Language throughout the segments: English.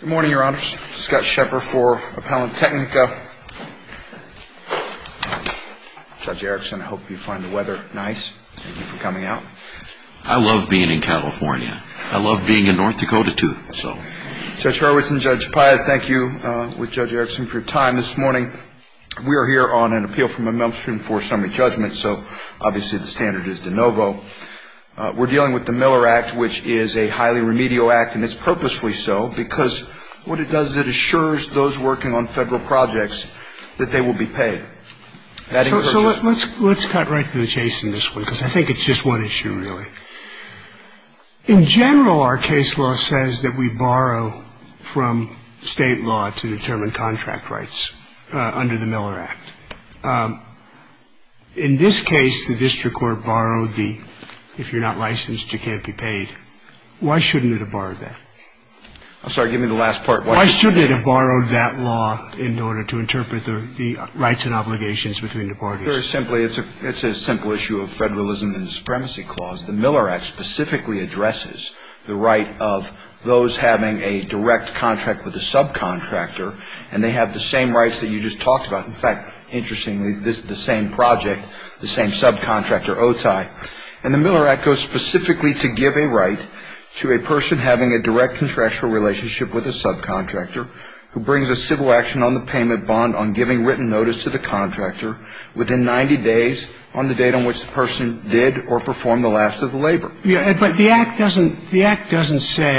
Good morning, your honors. Scott Shepherd for Appellant Technica. Judge Erickson, I hope you find the weather nice. Thank you for coming out. I love being in California. I love being in North Dakota, too. Judge Hurwitz and Judge Piaz, thank you with Judge Erickson for your time this morning. We are here on an appeal from a motion for summary judgment, so obviously the standard is de novo. We're dealing with the Miller Act, which is a highly remedial act, and it's purposefully so, because what it does is it assures those working on federal projects that they will be paid. So let's cut right to the chase in this one, because I think it's just one issue, really. In general, our case law says that we borrow from state law to determine contract rights under the Miller Act. In this case, the district court borrowed the if you're not licensed, you can't be paid. Why shouldn't it have borrowed that? I'm sorry, give me the last part. Why shouldn't it have borrowed that law in order to interpret the rights and obligations between the parties? Very simply, it's a simple issue of federalism and supremacy clause. The Miller Act specifically addresses the right of those having a direct contract with a subcontractor, and they have the same rights that you just talked about. In fact, interestingly, this is the same project, the same subcontractor, OTI. And the Miller Act goes specifically to give a right to a person having a direct contractual relationship with a subcontractor who brings a civil action on the payment bond on giving written notice to the contractor within 90 days on the date on which the person did or performed the last of the labor. But the Act doesn't say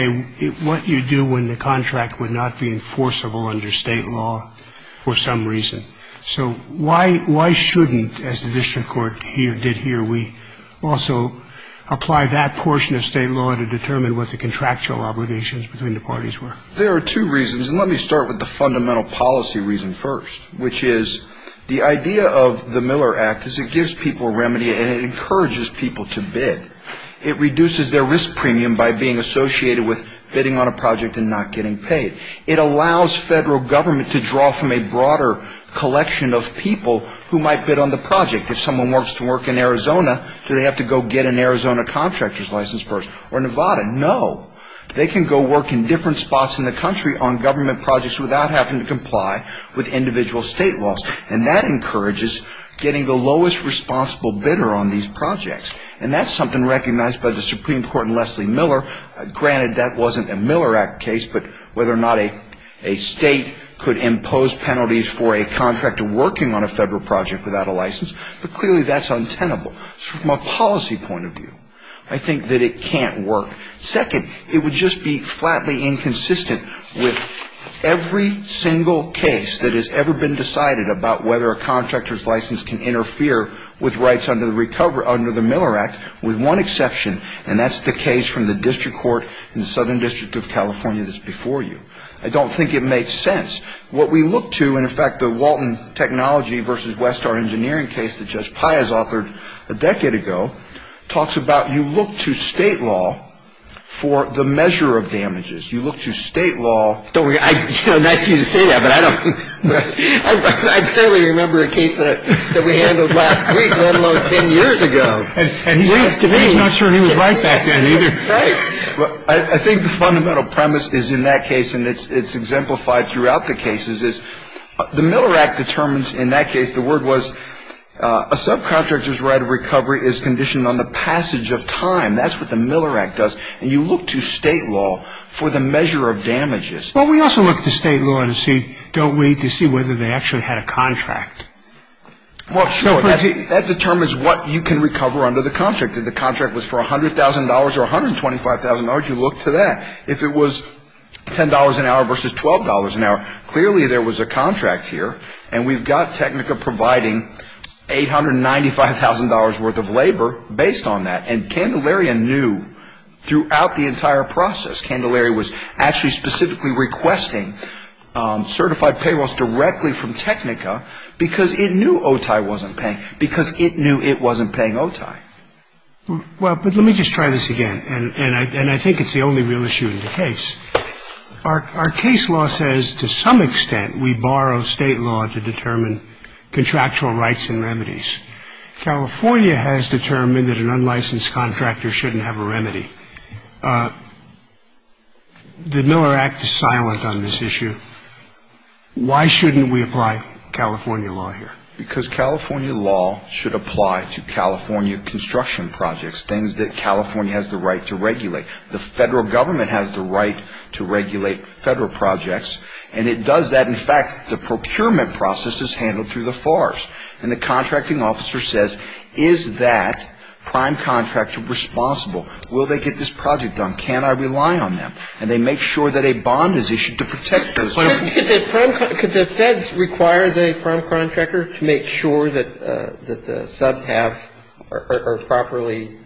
what you do when the contract would not be enforceable under state law for some reason. So why shouldn't, as the district court here did here, we also apply that portion of state law to determine what the contractual obligations between the parties were? There are two reasons, and let me start with the fundamental policy reason first, which is the idea of the Miller Act is it gives people a remedy and it encourages people to bid. It reduces their risk premium by being associated with bidding on a project and not getting paid. It allows federal government to draw from a broader collection of people who might bid on the project. If someone wants to work in Arizona, do they have to go get an Arizona contractor's license first? Or Nevada? No. They can go work in different spots in the country on government projects without having to comply with individual state laws. And that encourages getting the lowest responsible bidder on these projects. And that's something recognized by the Supreme Court in Leslie Miller. Granted, that wasn't a Miller Act case, but whether or not a state could impose penalties for a contractor working on a federal project without a license, but clearly that's untenable from a policy point of view. I think that it can't work. Second, it would just be flatly inconsistent with every single case that has ever been decided about whether a contractor's license can interfere with rights under the Miller Act with one exception, and that's the case from the district court in the Southern District of California that's before you. I don't think it makes sense. What we look to, and in fact the Walton Technology v. Westar Engineering case that Judge Pai has authored a decade ago, talks about you look to state law for the measure of damages. You look to state law. Nice of you to say that, but I don't. I barely remember a case that we handled last week, let alone ten years ago. He's not sure he was right back then either. I think the fundamental premise is in that case, and it's exemplified throughout the cases, is the Miller Act determines in that case the word was, a subcontractor's right of recovery is conditioned on the passage of time. That's what the Miller Act does, and you look to state law for the measure of damages. Well, we also look to state law to see, don't we, to see whether they actually had a contract. Well, sure. That determines what you can recover under the contract. If the contract was for $100,000 or $125,000, you look to that. If it was $10 an hour versus $12 an hour, clearly there was a contract here, and we've got Technica providing $895,000 worth of labor based on that, and Candelaria knew throughout the entire process. Candelaria was actually specifically requesting certified payrolls directly from Technica because it knew OTI wasn't paying, because it knew it wasn't paying OTI. Well, but let me just try this again, and I think it's the only real issue in the case. Our case law says to some extent we borrow state law to determine contractual rights and remedies. California has determined that an unlicensed contractor shouldn't have a remedy. The Miller Act is silent on this issue. Why shouldn't we apply California law here? Because California law should apply to California construction projects, things that California has the right to regulate. The federal government has the right to regulate federal projects, and it does that. In fact, the procurement process is handled through the FARs, and the contracting officer says, is that prime contractor responsible? Will they get this project done? Can I rely on them? And they make sure that a bond is issued to protect those. Could the feds require the prime contractor to make sure that the subs have or properly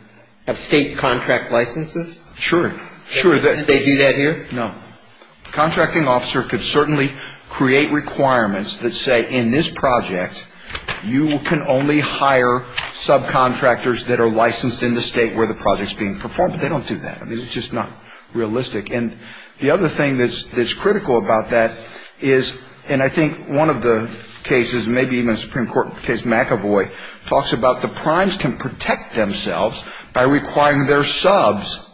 have state contract licenses? Sure. They do that here? No. The contracting officer could certainly create requirements that say, in this project, you can only hire subcontractors that are licensed in the state where the project is being performed, but they don't do that. I mean, it's just not realistic. And the other thing that's critical about that is, and I think one of the cases, maybe even a Supreme Court case, McAvoy, talks about the primes can protect themselves by requiring their subs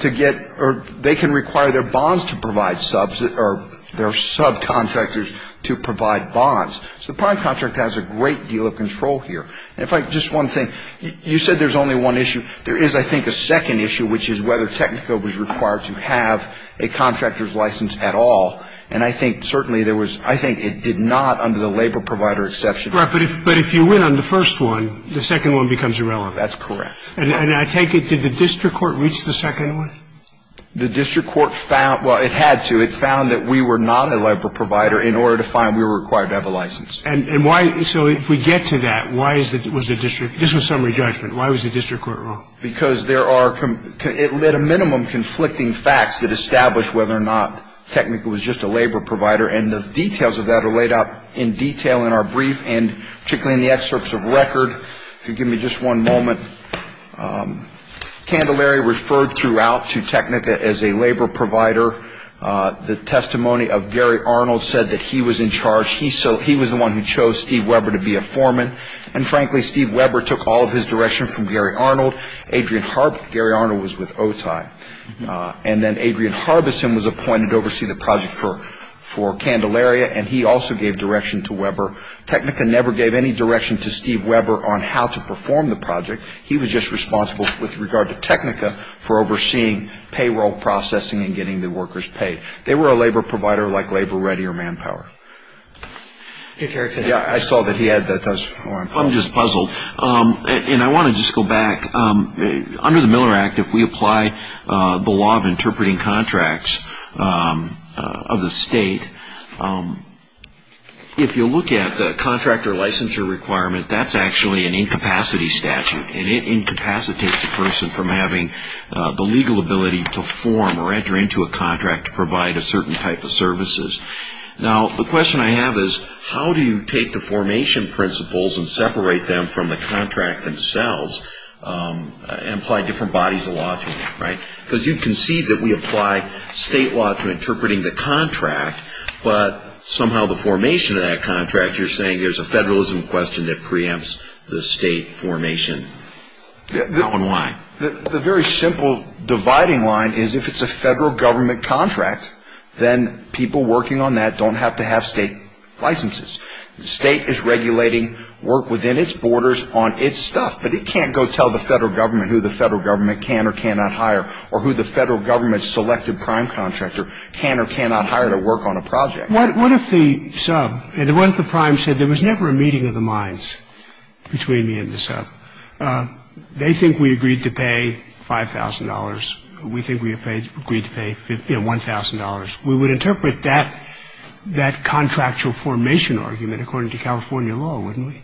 to get or they can require their bonds to provide subs or their subcontractors to provide bonds. So the prime contractor has a great deal of control here. And if I could, just one thing. You said there's only one issue. There is, I think, a second issue, which is whether Technico was required to have a contractor's license at all. And I think certainly there was – I think it did not under the labor provider exception. Right. But if you win on the first one, the second one becomes irrelevant. That's correct. And I take it, did the district court reach the second one? The district court found – well, it had to. It found that we were not a labor provider in order to find we were required to have a license. And why – so if we get to that, why is it – was the district – this was summary judgment. Why was the district court wrong? Because there are – it lit a minimum conflicting facts that establish whether or not Technico was just a labor provider. And the details of that are laid out in detail in our brief and particularly in the excerpts of record. If you'll give me just one moment. Candelaria referred throughout to Technico as a labor provider. The testimony of Gary Arnold said that he was in charge. He was the one who chose Steve Weber to be a foreman. And, frankly, Steve Weber took all of his direction from Gary Arnold. Adrian Harbison – Gary Arnold was with OTI. And then Adrian Harbison was appointed to oversee the project for Candelaria, and he also gave direction to Weber. Technico never gave any direction to Steve Weber on how to perform the project. He was just responsible with regard to Technico for overseeing payroll processing and getting the workers paid. They were a labor provider like Labor Ready or Manpower. I saw that he had those forms. I'm just puzzled. And I want to just go back. Under the Miller Act, if we apply the law of interpreting contracts of the state, if you look at the contractor licensure requirement, that's actually an incapacity statute. And it incapacitates a person from having the legal ability to form or enter into a contract to provide a certain type of services. Now, the question I have is, how do you take the formation principles and separate them from the contract themselves and apply different bodies of law to them, right? Because you concede that we apply state law to interpreting the contract, but somehow the formation of that contract, you're saying, there's a federalism question that preempts the state formation. How and why? The very simple dividing line is if it's a federal government contract, then people working on that don't have to have state licenses. The state is regulating work within its borders on its stuff, but it can't go tell the federal government who the federal government can or cannot hire or who the federal government's selected prime contractor can or cannot hire to work on a project. What if the sub, what if the prime said there was never a meeting of the minds between me and the sub? They think we agreed to pay $5,000. We think we agreed to pay, you know, $1,000. We would interpret that contractual formation argument according to California law, wouldn't we?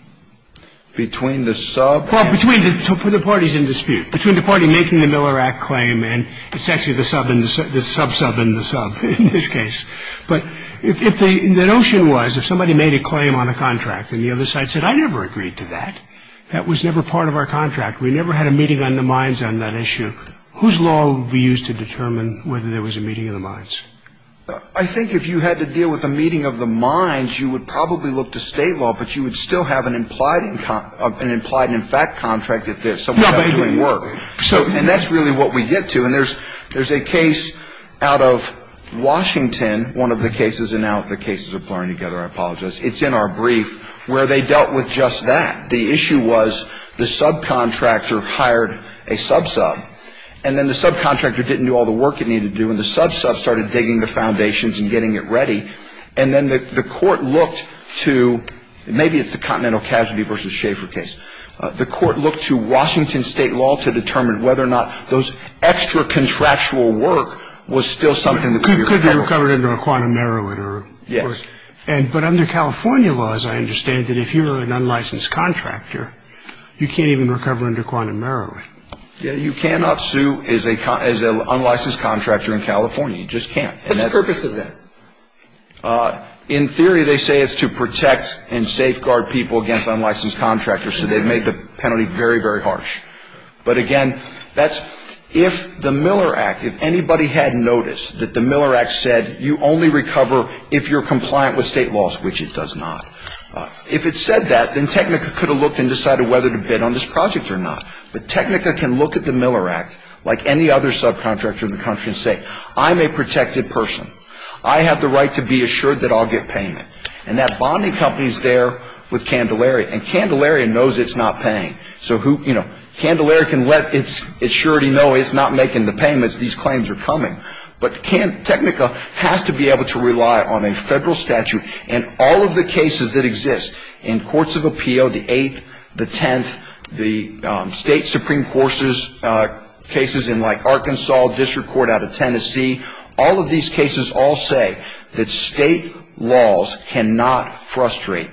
Between the sub? Well, between the parties in dispute, between the party making the Miller Act claim and it's actually the sub, the sub-sub and the sub in this case. But if the notion was if somebody made a claim on a contract and the other side said, I never agreed to that, that was never part of our contract, we never had a meeting on the minds on that issue, whose law would be used to determine whether there was a meeting of the minds? I think if you had to deal with a meeting of the minds, you would probably look to state law, but you would still have an implied and in fact contract if there's somebody doing work. And that's really what we get to. And there's a case out of Washington, one of the cases, and now the cases are blurring together, I apologize, it's in our brief, where they dealt with just that. The issue was the subcontractor hired a sub-sub and then the subcontractor didn't do all the work it needed to do and the sub-sub started digging the foundations and getting it ready. And then the court looked to, maybe it's the Continental Casualty v. Schaefer case, the court looked to Washington state law to determine whether or not those extra contractual work was still something that could be recovered. Could be recovered under a quantum narrow it, or? Yes. But under California laws, I understand that if you're an unlicensed contractor, you can't even recover under quantum narrow it. Yeah, you cannot sue as an unlicensed contractor in California. You just can't. What's the purpose of that? In theory, they say it's to protect and safeguard people against unlicensed contractors, so they've made the penalty very, very harsh. But again, that's if the Miller Act, if anybody had noticed that the Miller Act said you only recover if you're compliant with state laws, which it does not. If it said that, then Technica could have looked and decided whether to bid on this project or not. But Technica can look at the Miller Act, like any other subcontractor in the country, and say, I'm a protected person. I have the right to be assured that I'll get payment. And that bonding company is there with Candelaria, and Candelaria knows it's not paying. So who, you know, Candelaria can let its assurity know it's not making the payments, these claims are coming. But Technica has to be able to rely on a federal statute. And all of the cases that exist in courts of appeal, the Eighth, the Tenth, the State Supreme Court's cases in like Arkansas, district court out of Tennessee, all of these cases all say that state laws cannot frustrate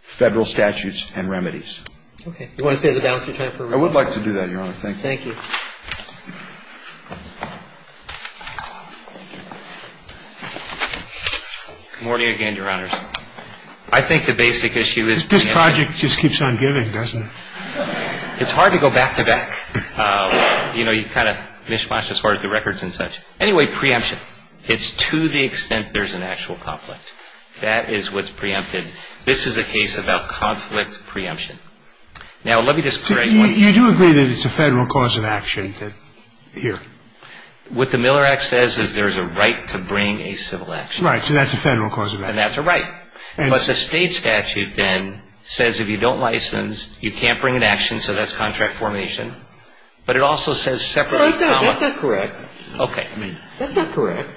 federal statutes and remedies. Okay. You want to stay at the balance of your time for a minute? I would like to do that, Your Honor. Thank you. Thank you. Good morning again, Your Honors. I think the basic issue is preemption. This project just keeps on giving, doesn't it? It's hard to go back to back. You know, you kind of mishmash as far as the records and such. Anyway, preemption. It's to the extent there's an actual conflict. That is what's preempted. Now, let me just correct one thing. You do agree that it's a federal cause of action here. What the Miller Act says is there's a right to bring a civil action. Right. So that's a federal cause of action. And that's a right. But the State statute then says if you don't license, you can't bring an action, so that's contract formation. But it also says separately. No, that's not correct. Okay. That's not correct.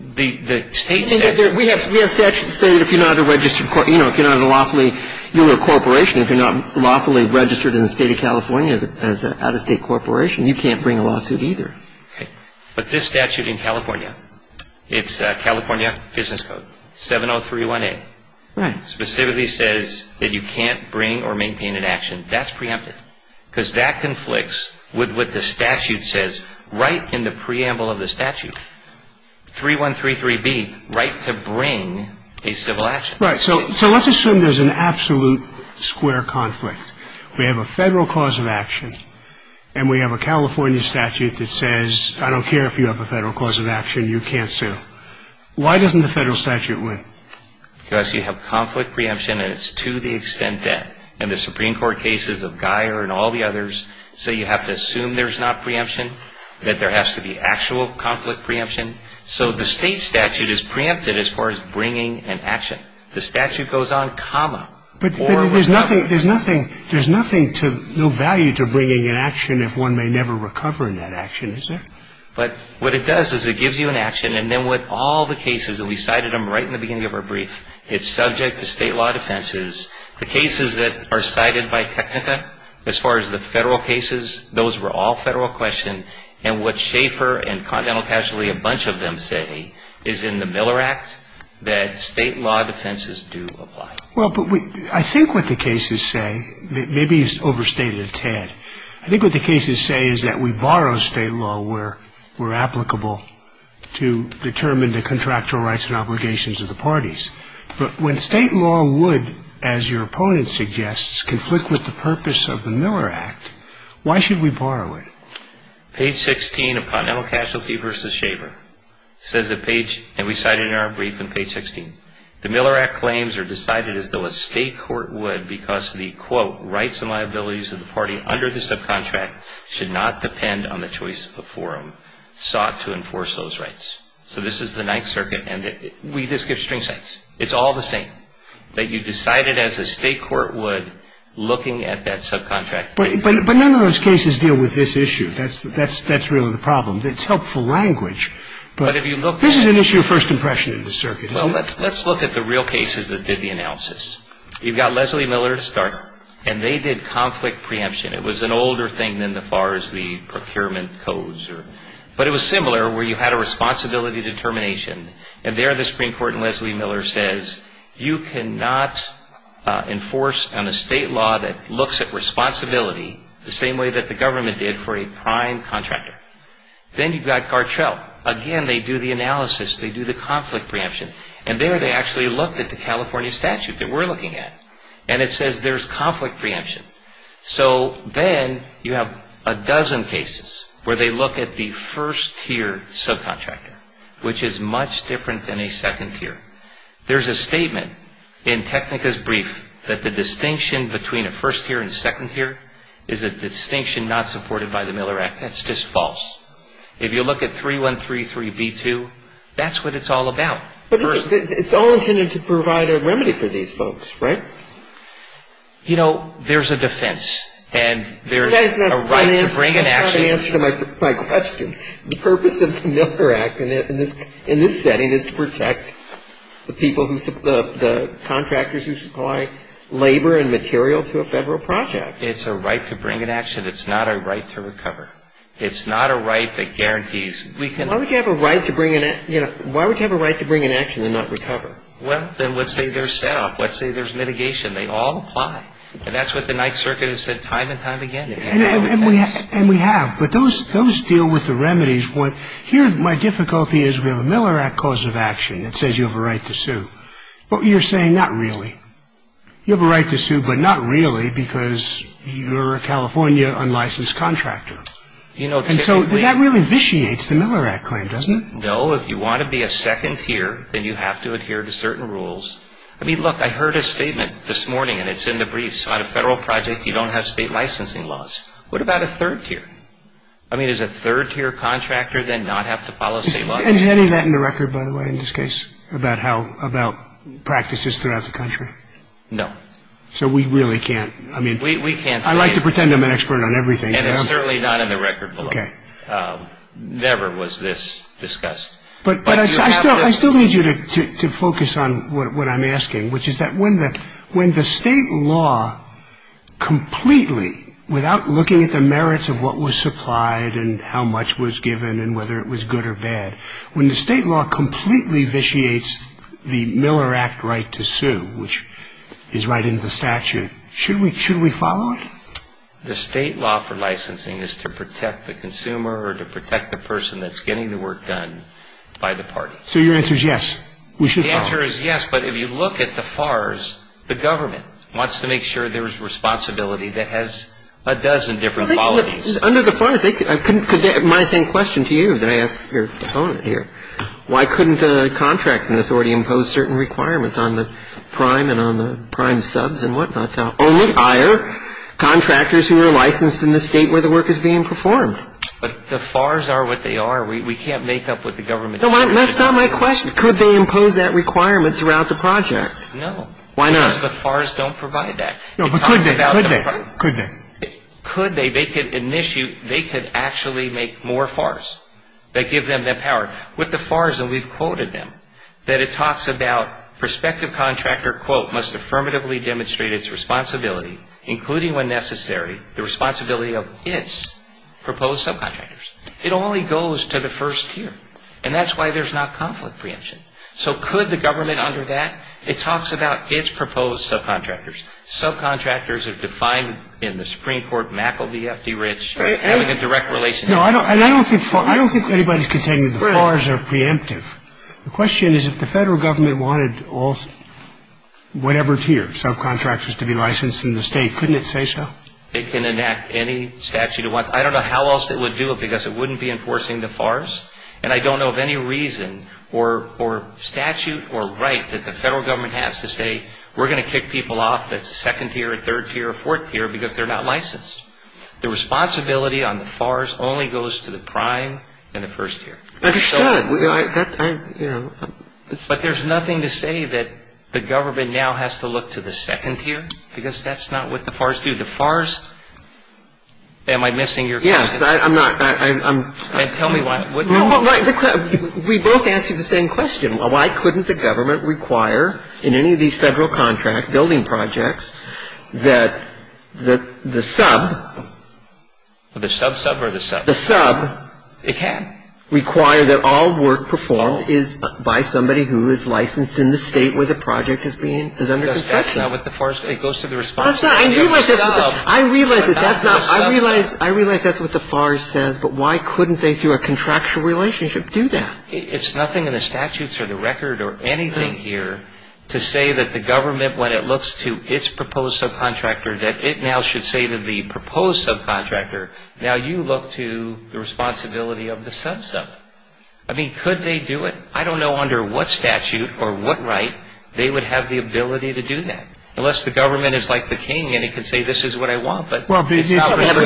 The State statute. We have statutes that say if you're not a registered, you know, if you're not a lawfully if you're not lawfully registered in the State of California as an out-of-state corporation, you can't bring a lawsuit either. Okay. But this statute in California, it's California Business Code 7031A. Right. Specifically says that you can't bring or maintain an action. That's preempted. Because that conflicts with what the statute says right in the preamble of the statute. 3133B, right to bring a civil action. So let's assume there's an absolute square conflict. We have a federal cause of action. And we have a California statute that says I don't care if you have a federal cause of action, you can't sue. Why doesn't the federal statute win? Because you have conflict preemption, and it's to the extent that in the Supreme Court cases of Guyer and all the others, so you have to assume there's not preemption, that there has to be actual conflict preemption. So the State statute is preempted as far as bringing an action. The statute goes on comma. But there's nothing to, no value to bringing an action if one may never recover in that action, is there? But what it does is it gives you an action, and then with all the cases, and we cited them right in the beginning of our brief, it's subject to state law defenses. The cases that are cited by Technica, as far as the federal cases, those were all federal questions. And what Schaeffer and Continental Casualty, a bunch of them say, is in the Miller Act that state law defenses do apply. Well, but I think what the cases say, maybe he's overstated a tad, I think what the cases say is that we borrow state law where we're applicable to determine the contractual rights and obligations of the parties. But when state law would, as your opponent suggests, conflict with the purpose of the Miller Act, why should we borrow it? Page 16 of Continental Casualty v. Schaeffer says that page, and we cite it in our brief in page 16, the Miller Act claims are decided as though a state court would because the, quote, rights and liabilities of the party under the subcontract should not depend on the choice of forum sought to enforce those rights. So this is the Ninth Circuit, and we just give string sets. It's all the same, that you decide it as a state court would looking at that subcontract. But none of those cases deal with this issue. That's really the problem. It's helpful language, but this is an issue of first impression in the circuit, isn't it? Well, let's look at the real cases that did the analysis. You've got Leslie Miller to start. And they did conflict preemption. It was an older thing than as far as the procurement codes. But it was similar where you had a responsibility determination. And there the Supreme Court in Leslie Miller says you cannot enforce on a state law that looks at responsibility the same way that the government did for a prime contractor. Then you've got Gartrell. Again, they do the analysis. They do the conflict preemption. And there they actually looked at the California statute that we're looking at. And it says there's conflict preemption. So then you have a dozen cases where they look at the first tier subcontractor, which is much different than a second tier. There's a statement in Technica's brief that the distinction between a first tier and second tier is a distinction not supported by the Miller Act. That's just false. If you look at 3133B2, that's what it's all about. But it's all intended to provide a remedy for these folks, right? You know, there's a defense. And there's a right to bring an action. That's not an answer to my question. The purpose of the Miller Act in this setting is to protect the contractors who supply labor and material to a federal project. It's a right to bring an action. It's not a right to recover. It's not a right that guarantees. Why would you have a right to bring an action and not recover? Well, then let's say there's set off. Let's say there's mitigation. They all apply. And that's what the Ninth Circuit has said time and time again. And we have. But those deal with the remedies. Here my difficulty is we have a Miller Act cause of action that says you have a right to sue. But you're saying not really. You have a right to sue, but not really because you're a California unlicensed contractor. And so that really vitiates the Miller Act claim, doesn't it? No. If you want to be a second tier, then you have to adhere to certain rules. I mean, look, I heard a statement this morning, and it's in the briefs. On a federal project, you don't have state licensing laws. What about a third tier? I mean, does a third tier contractor then not have to follow state laws? And is any of that in the record, by the way, in this case about practices throughout the country? No. So we really can't. I mean, I like to pretend I'm an expert on everything. And it's certainly not in the record below. Okay. Never was this discussed. But I still need you to focus on what I'm asking, which is that when the state law completely, without looking at the merits of what was supplied and how much was given and whether it was good or bad, when the state law completely vitiates the Miller Act right to sue, which is right in the statute, should we follow it? The state law for licensing is to protect the consumer or to protect the person that's getting the work done by the party. So your answer is yes, we should follow it. The answer is yes. But if you look at the FARs, the government wants to make sure there's responsibility that has a dozen different qualities. Under the FARs, I couldn't – my same question to you that I asked your opponent here. Why couldn't the contracting authority impose certain requirements on the prime and on the prime subs and whatnot to only hire contractors who are licensed in the state where the work is being performed? But the FARs are what they are. We can't make up what the government says. That's not my question. Could they impose that requirement throughout the project? No. Why not? Because the FARs don't provide that. No, but could they? Could they? Could they? Could they? They could actually make more FARs that give them that power. With the FARs, and we've quoted them, that it talks about prospective contractor, quote, must affirmatively demonstrate its responsibility, including when necessary, the responsibility of its proposed subcontractors. It only goes to the first tier. And that's why there's not conflict preemption. So could the government under that? It talks about its proposed subcontractors. Subcontractors are defined in the Supreme Court, MACL, BFD, RITS, having a direct relationship. I don't think anybody's contending that the FARs are preemptive. The question is if the federal government wanted all, whatever tier, subcontractors to be licensed in the state, couldn't it say so? It can enact any statute it wants. I don't know how else it would do it because it wouldn't be enforcing the FARs. And I don't know of any reason or statute or right that the federal government has to say, we're going to kick people off that's second tier or third tier or fourth tier because they're not licensed. The responsibility on the FARs only goes to the prime and the first tier. Understood. But there's nothing to say that the government now has to look to the second tier because that's not what the FARs do. The FARs am I missing your question? Yes. I'm not. Tell me why. We both asked you the same question. Well, why couldn't the government require in any of these federal contract building projects that the sub. The sub sub or the sub? The sub. It can. Require that all work performed is by somebody who is licensed in the state where the project is being, is under construction. That's not what the FARs, it goes to the responsibility of the sub. I realize that's not, I realize, I realize that's what the FARs says, but why couldn't they through a contractual relationship do that? It's nothing in the statutes or the record or anything here to say that the government, when it looks to its proposed subcontractor, that it now should say to the proposed subcontractor, now you look to the responsibility of the sub sub. I mean, could they do it? I don't know under what statute or what right they would have the ability to do that. Unless the government is like the king and it can say this is what I want, but. They have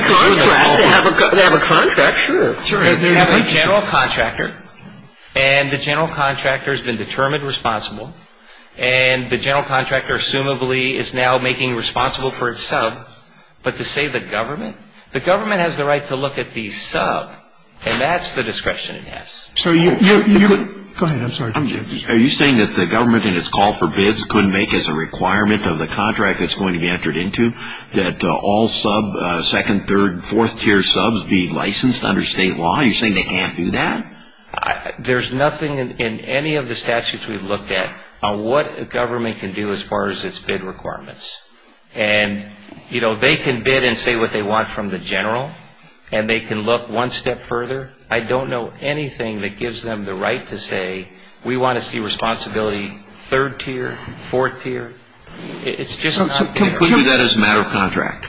a contract, sure. They have a general contractor, and the general contractor has been determined responsible, and the general contractor assumably is now making responsible for its sub, but to say the government, the government has the right to look at the sub, and that's the discretion it has. So you. Go ahead, I'm sorry. Are you saying that the government in its call for bids couldn't make as a requirement of the contract it's going to be entered into that all sub, second, third, fourth tier subs be licensed under state law? Are you saying they can't do that? There's nothing in any of the statutes we've looked at on what a government can do as far as its bid requirements. And, you know, they can bid and say what they want from the general, and they can look one step further. I don't know anything that gives them the right to say we want to see responsibility third tier, fourth tier. It's just not there. So can we do that as a matter of contract?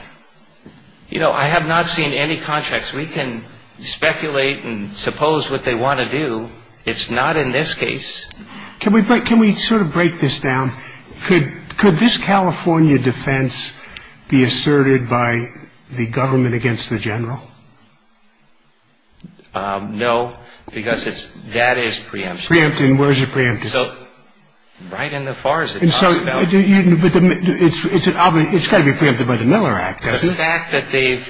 You know, I have not seen any contracts. We can speculate and suppose what they want to do. It's not in this case. Can we sort of break this down? Could this California defense be asserted by the government against the general? No, because that is preempted. Preempted, and where is it preempted? So right in the FARS it's talked about. It's got to be preempted by the Miller Act, doesn't it? The fact that they've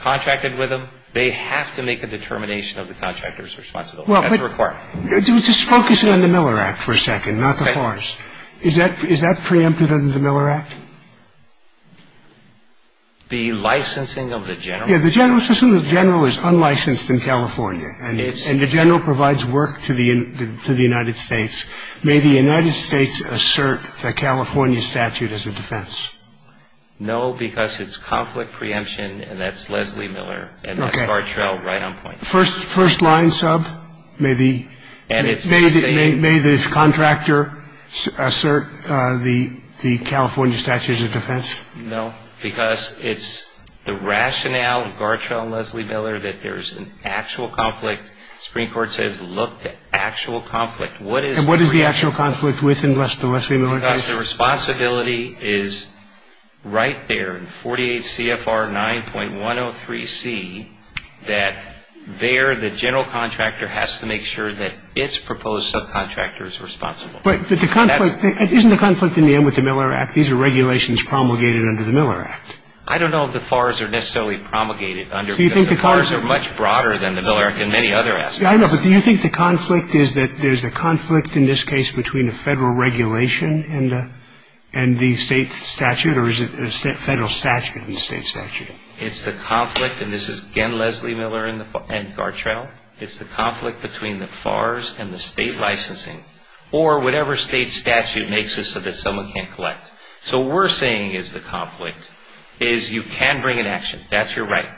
contracted with them, they have to make a determination of the contractor's responsibility. That's required. Just focus in on the Miller Act for a second, not the FARS. Okay. Is that preempted under the Miller Act? The licensing of the general? Let's assume the general is unlicensed in California and the general provides work to the United States. May the United States assert the California statute as a defense? No, because it's conflict preemption and that's Leslie Miller and that's Gartrell right on point. First line sub? No, because it's the rationale of Gartrell and Leslie Miller that there's an actual conflict. The Supreme Court says look to actual conflict. And what is the actual conflict within the Leslie Miller case? Because the responsibility is right there in 48 CFR 9.103C that there the general contractor has to make sure that its proposed subcontractor is responsible. But isn't the conflict in the end with the Miller Act? These are regulations promulgated under the Miller Act. I don't know if the FARS are necessarily promulgated under because the FARS are much broader than the Miller Act in many other aspects. I know, but do you think the conflict is that there's a conflict in this case between the federal regulation and the state statute? Or is it a federal statute and the state statute? It's the conflict, and this is, again, Leslie Miller and Gartrell. It's the conflict between the FARS and the state licensing or whatever state statute makes it so that someone can't collect. So what we're saying is the conflict is you can bring an action. That's your right.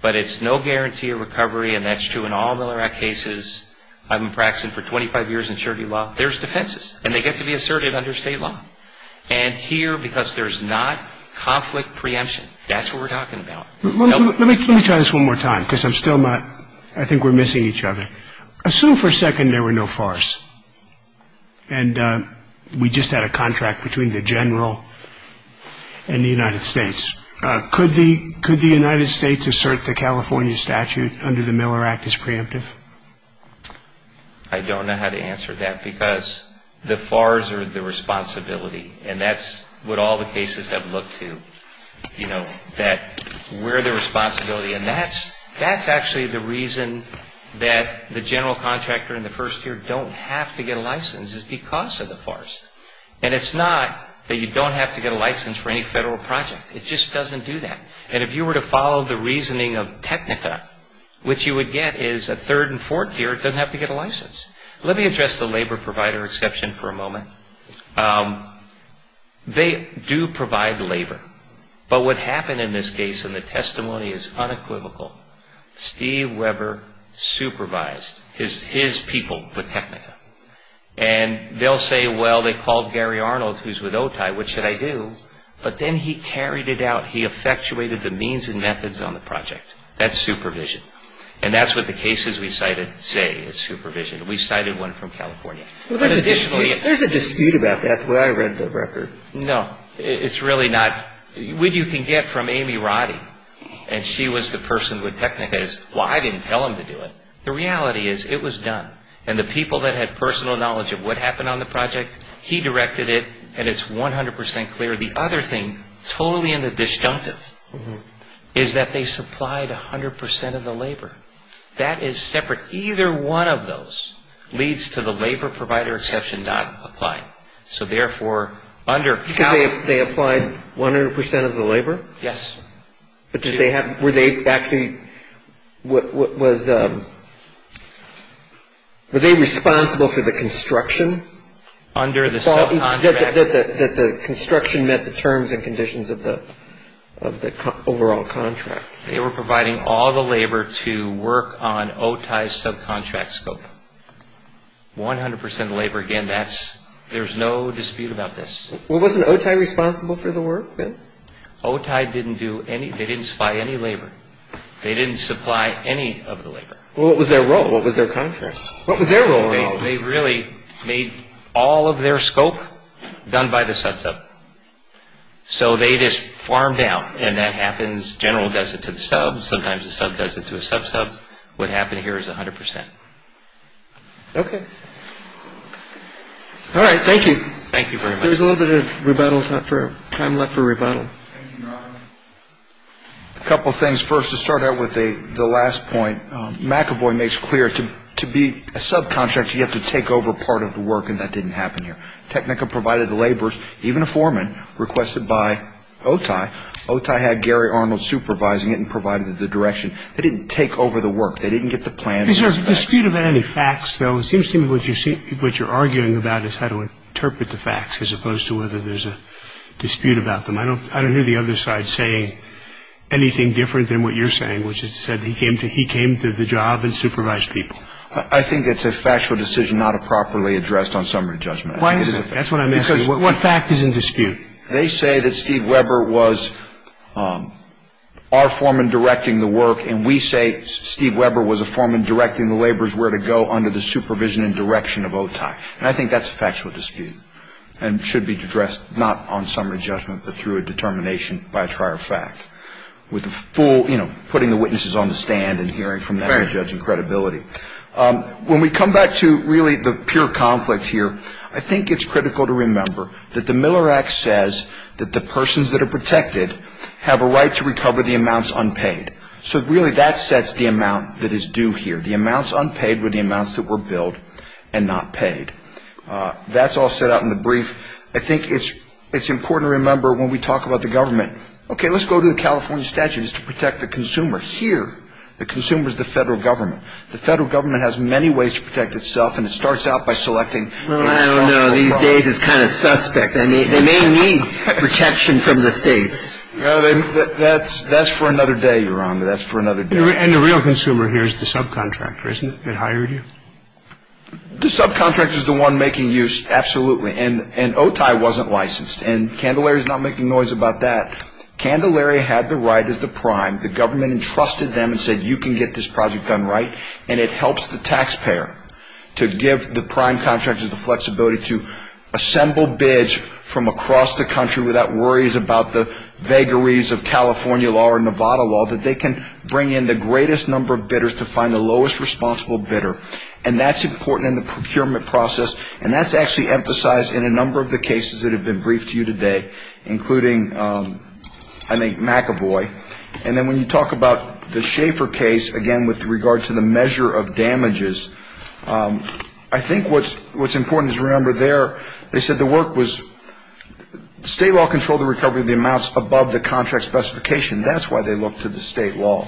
But it's no guarantee of recovery, and that's true in all Miller Act cases. I've been practicing for 25 years in surety law. There's defenses, and they get to be asserted under state law. And here, because there's not conflict preemption, that's what we're talking about. Let me try this one more time because I'm still not ‑‑ I think we're missing each other. Assume for a second there were no FARS, and we just had a contract between the general and the United States. Could the United States assert the California statute under the Miller Act as preemptive? I don't know how to answer that because the FARS are the responsibility, and that's what all the cases have looked to, you know, that we're the responsibility. And that's actually the reason that the general contractor in the first year don't have to get a license is because of the FARS. And it's not that you don't have to get a license for any federal project. It just doesn't do that. And if you were to follow the reasoning of technica, which you would get is a third and fourth year, it doesn't have to get a license. Let me address the labor provider exception for a moment. They do provide labor. But what happened in this case, and the testimony is unequivocal, Steve Weber supervised his people with technica. And they'll say, well, they called Gary Arnold, who's with OTI, what should I do? But then he carried it out. He effectuated the means and methods on the project. That's supervision. And that's what the cases we cited say is supervision. We cited one from California. There's a dispute about that the way I read the record. No, it's really not. What you can get from Amy Roddy, and she was the person with technica, is, well, I didn't tell him to do it. The reality is it was done. And the people that had personal knowledge of what happened on the project, he directed it, and it's 100% clear. The other thing, totally in the disjunctive, is that they supplied 100% of the labor. That is separate. Either one of those leads to the labor provider exception not applying. So, therefore, under California. They applied 100% of the labor? Yes. But did they have, were they actually, was, were they responsible for the construction? Under the subcontract. That the construction met the terms and conditions of the overall contract. They were providing all the labor to work on OTI's subcontract scope. 100% of the labor. Again, that's, there's no dispute about this. Well, wasn't OTI responsible for the work then? OTI didn't do any, they didn't supply any labor. They didn't supply any of the labor. Well, what was their role? What was their contract? What was their role at all? They really made all of their scope done by the sub sub. So, they just farmed out. And that happens, general does it to the sub. Sometimes the sub does it to a sub sub. What happened here is 100%. Okay. All right. Thank you. Thank you very much. There's a little bit of rebuttal time left for rebuttal. A couple of things. First, to start out with the last point. McEvoy makes clear, to be a subcontract, you have to take over part of the work. And that didn't happen here. Technica provided the laborers, even a foreman, requested by OTI. OTI had Gary Arnold supervising it and provided the direction. They didn't take over the work. They didn't get the plans. Is there a dispute about any facts, though? It seems to me what you're arguing about is how to interpret the facts, as opposed to whether there's a dispute about them. I don't hear the other side saying anything different than what you're saying, which is that he came to the job and supervised people. I think it's a factual decision not properly addressed on summary judgment. That's what I'm asking. Because what fact is in dispute? They say that Steve Weber was our foreman directing the work, and we say Steve Weber was a foreman directing the laborers where to go under the supervision and direction of OTI. And I think that's a factual dispute and should be addressed not on summary judgment but through a determination by a trier fact, with the full, you know, putting the witnesses on the stand and hearing from them and judging credibility. When we come back to really the pure conflict here, I think it's critical to remember that the Miller Act says that the persons that are protected have a right to recover the amounts unpaid. So really that sets the amount that is due here, the amounts unpaid with the amounts that were billed and not paid. That's all set out in the brief. I think it's important to remember when we talk about the government, okay, let's go to the California statutes to protect the consumer. Here the consumer is the federal government. The federal government has many ways to protect itself, and it starts out by selecting. Well, I don't know. These days it's kind of suspect. They may need protection from the states. That's for another day, Your Honor. That's for another day. And the real consumer here is the subcontractor, isn't it, that hired you? The subcontractor is the one making use, absolutely. And OTI wasn't licensed. And Candelaria is not making noise about that. Candelaria had the right as the prime. The government entrusted them and said you can get this project done right, and it helps the taxpayer to give the prime contractors the flexibility to assemble bids from across the country without worries about the vagaries of California law or Nevada law, that they can bring in the greatest number of bidders to find the lowest responsible bidder. And that's important in the procurement process, and that's actually emphasized in a number of the cases that have been briefed to you today, including, I think, McAvoy. And then when you talk about the Schaefer case, again, with regard to the measure of damages, I think what's important is remember there they said the work was state law controlled the recovery of the amounts above the contract specification. That's why they looked to the state law.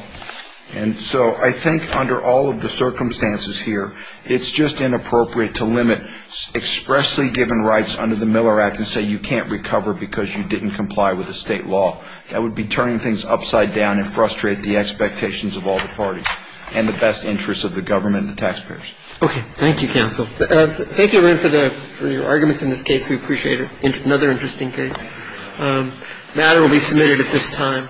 And so I think under all of the circumstances here, it's just inappropriate to limit expressly given rights under the Miller Act and say you can't recover because you didn't comply with the state law. That would be turning things upside down and frustrate the expectations of all the parties and the best interests of the government and the taxpayers. Okay. Thank you, counsel. Thank you again for your arguments in this case. We appreciate it. Another interesting case. The matter will be submitted at this time.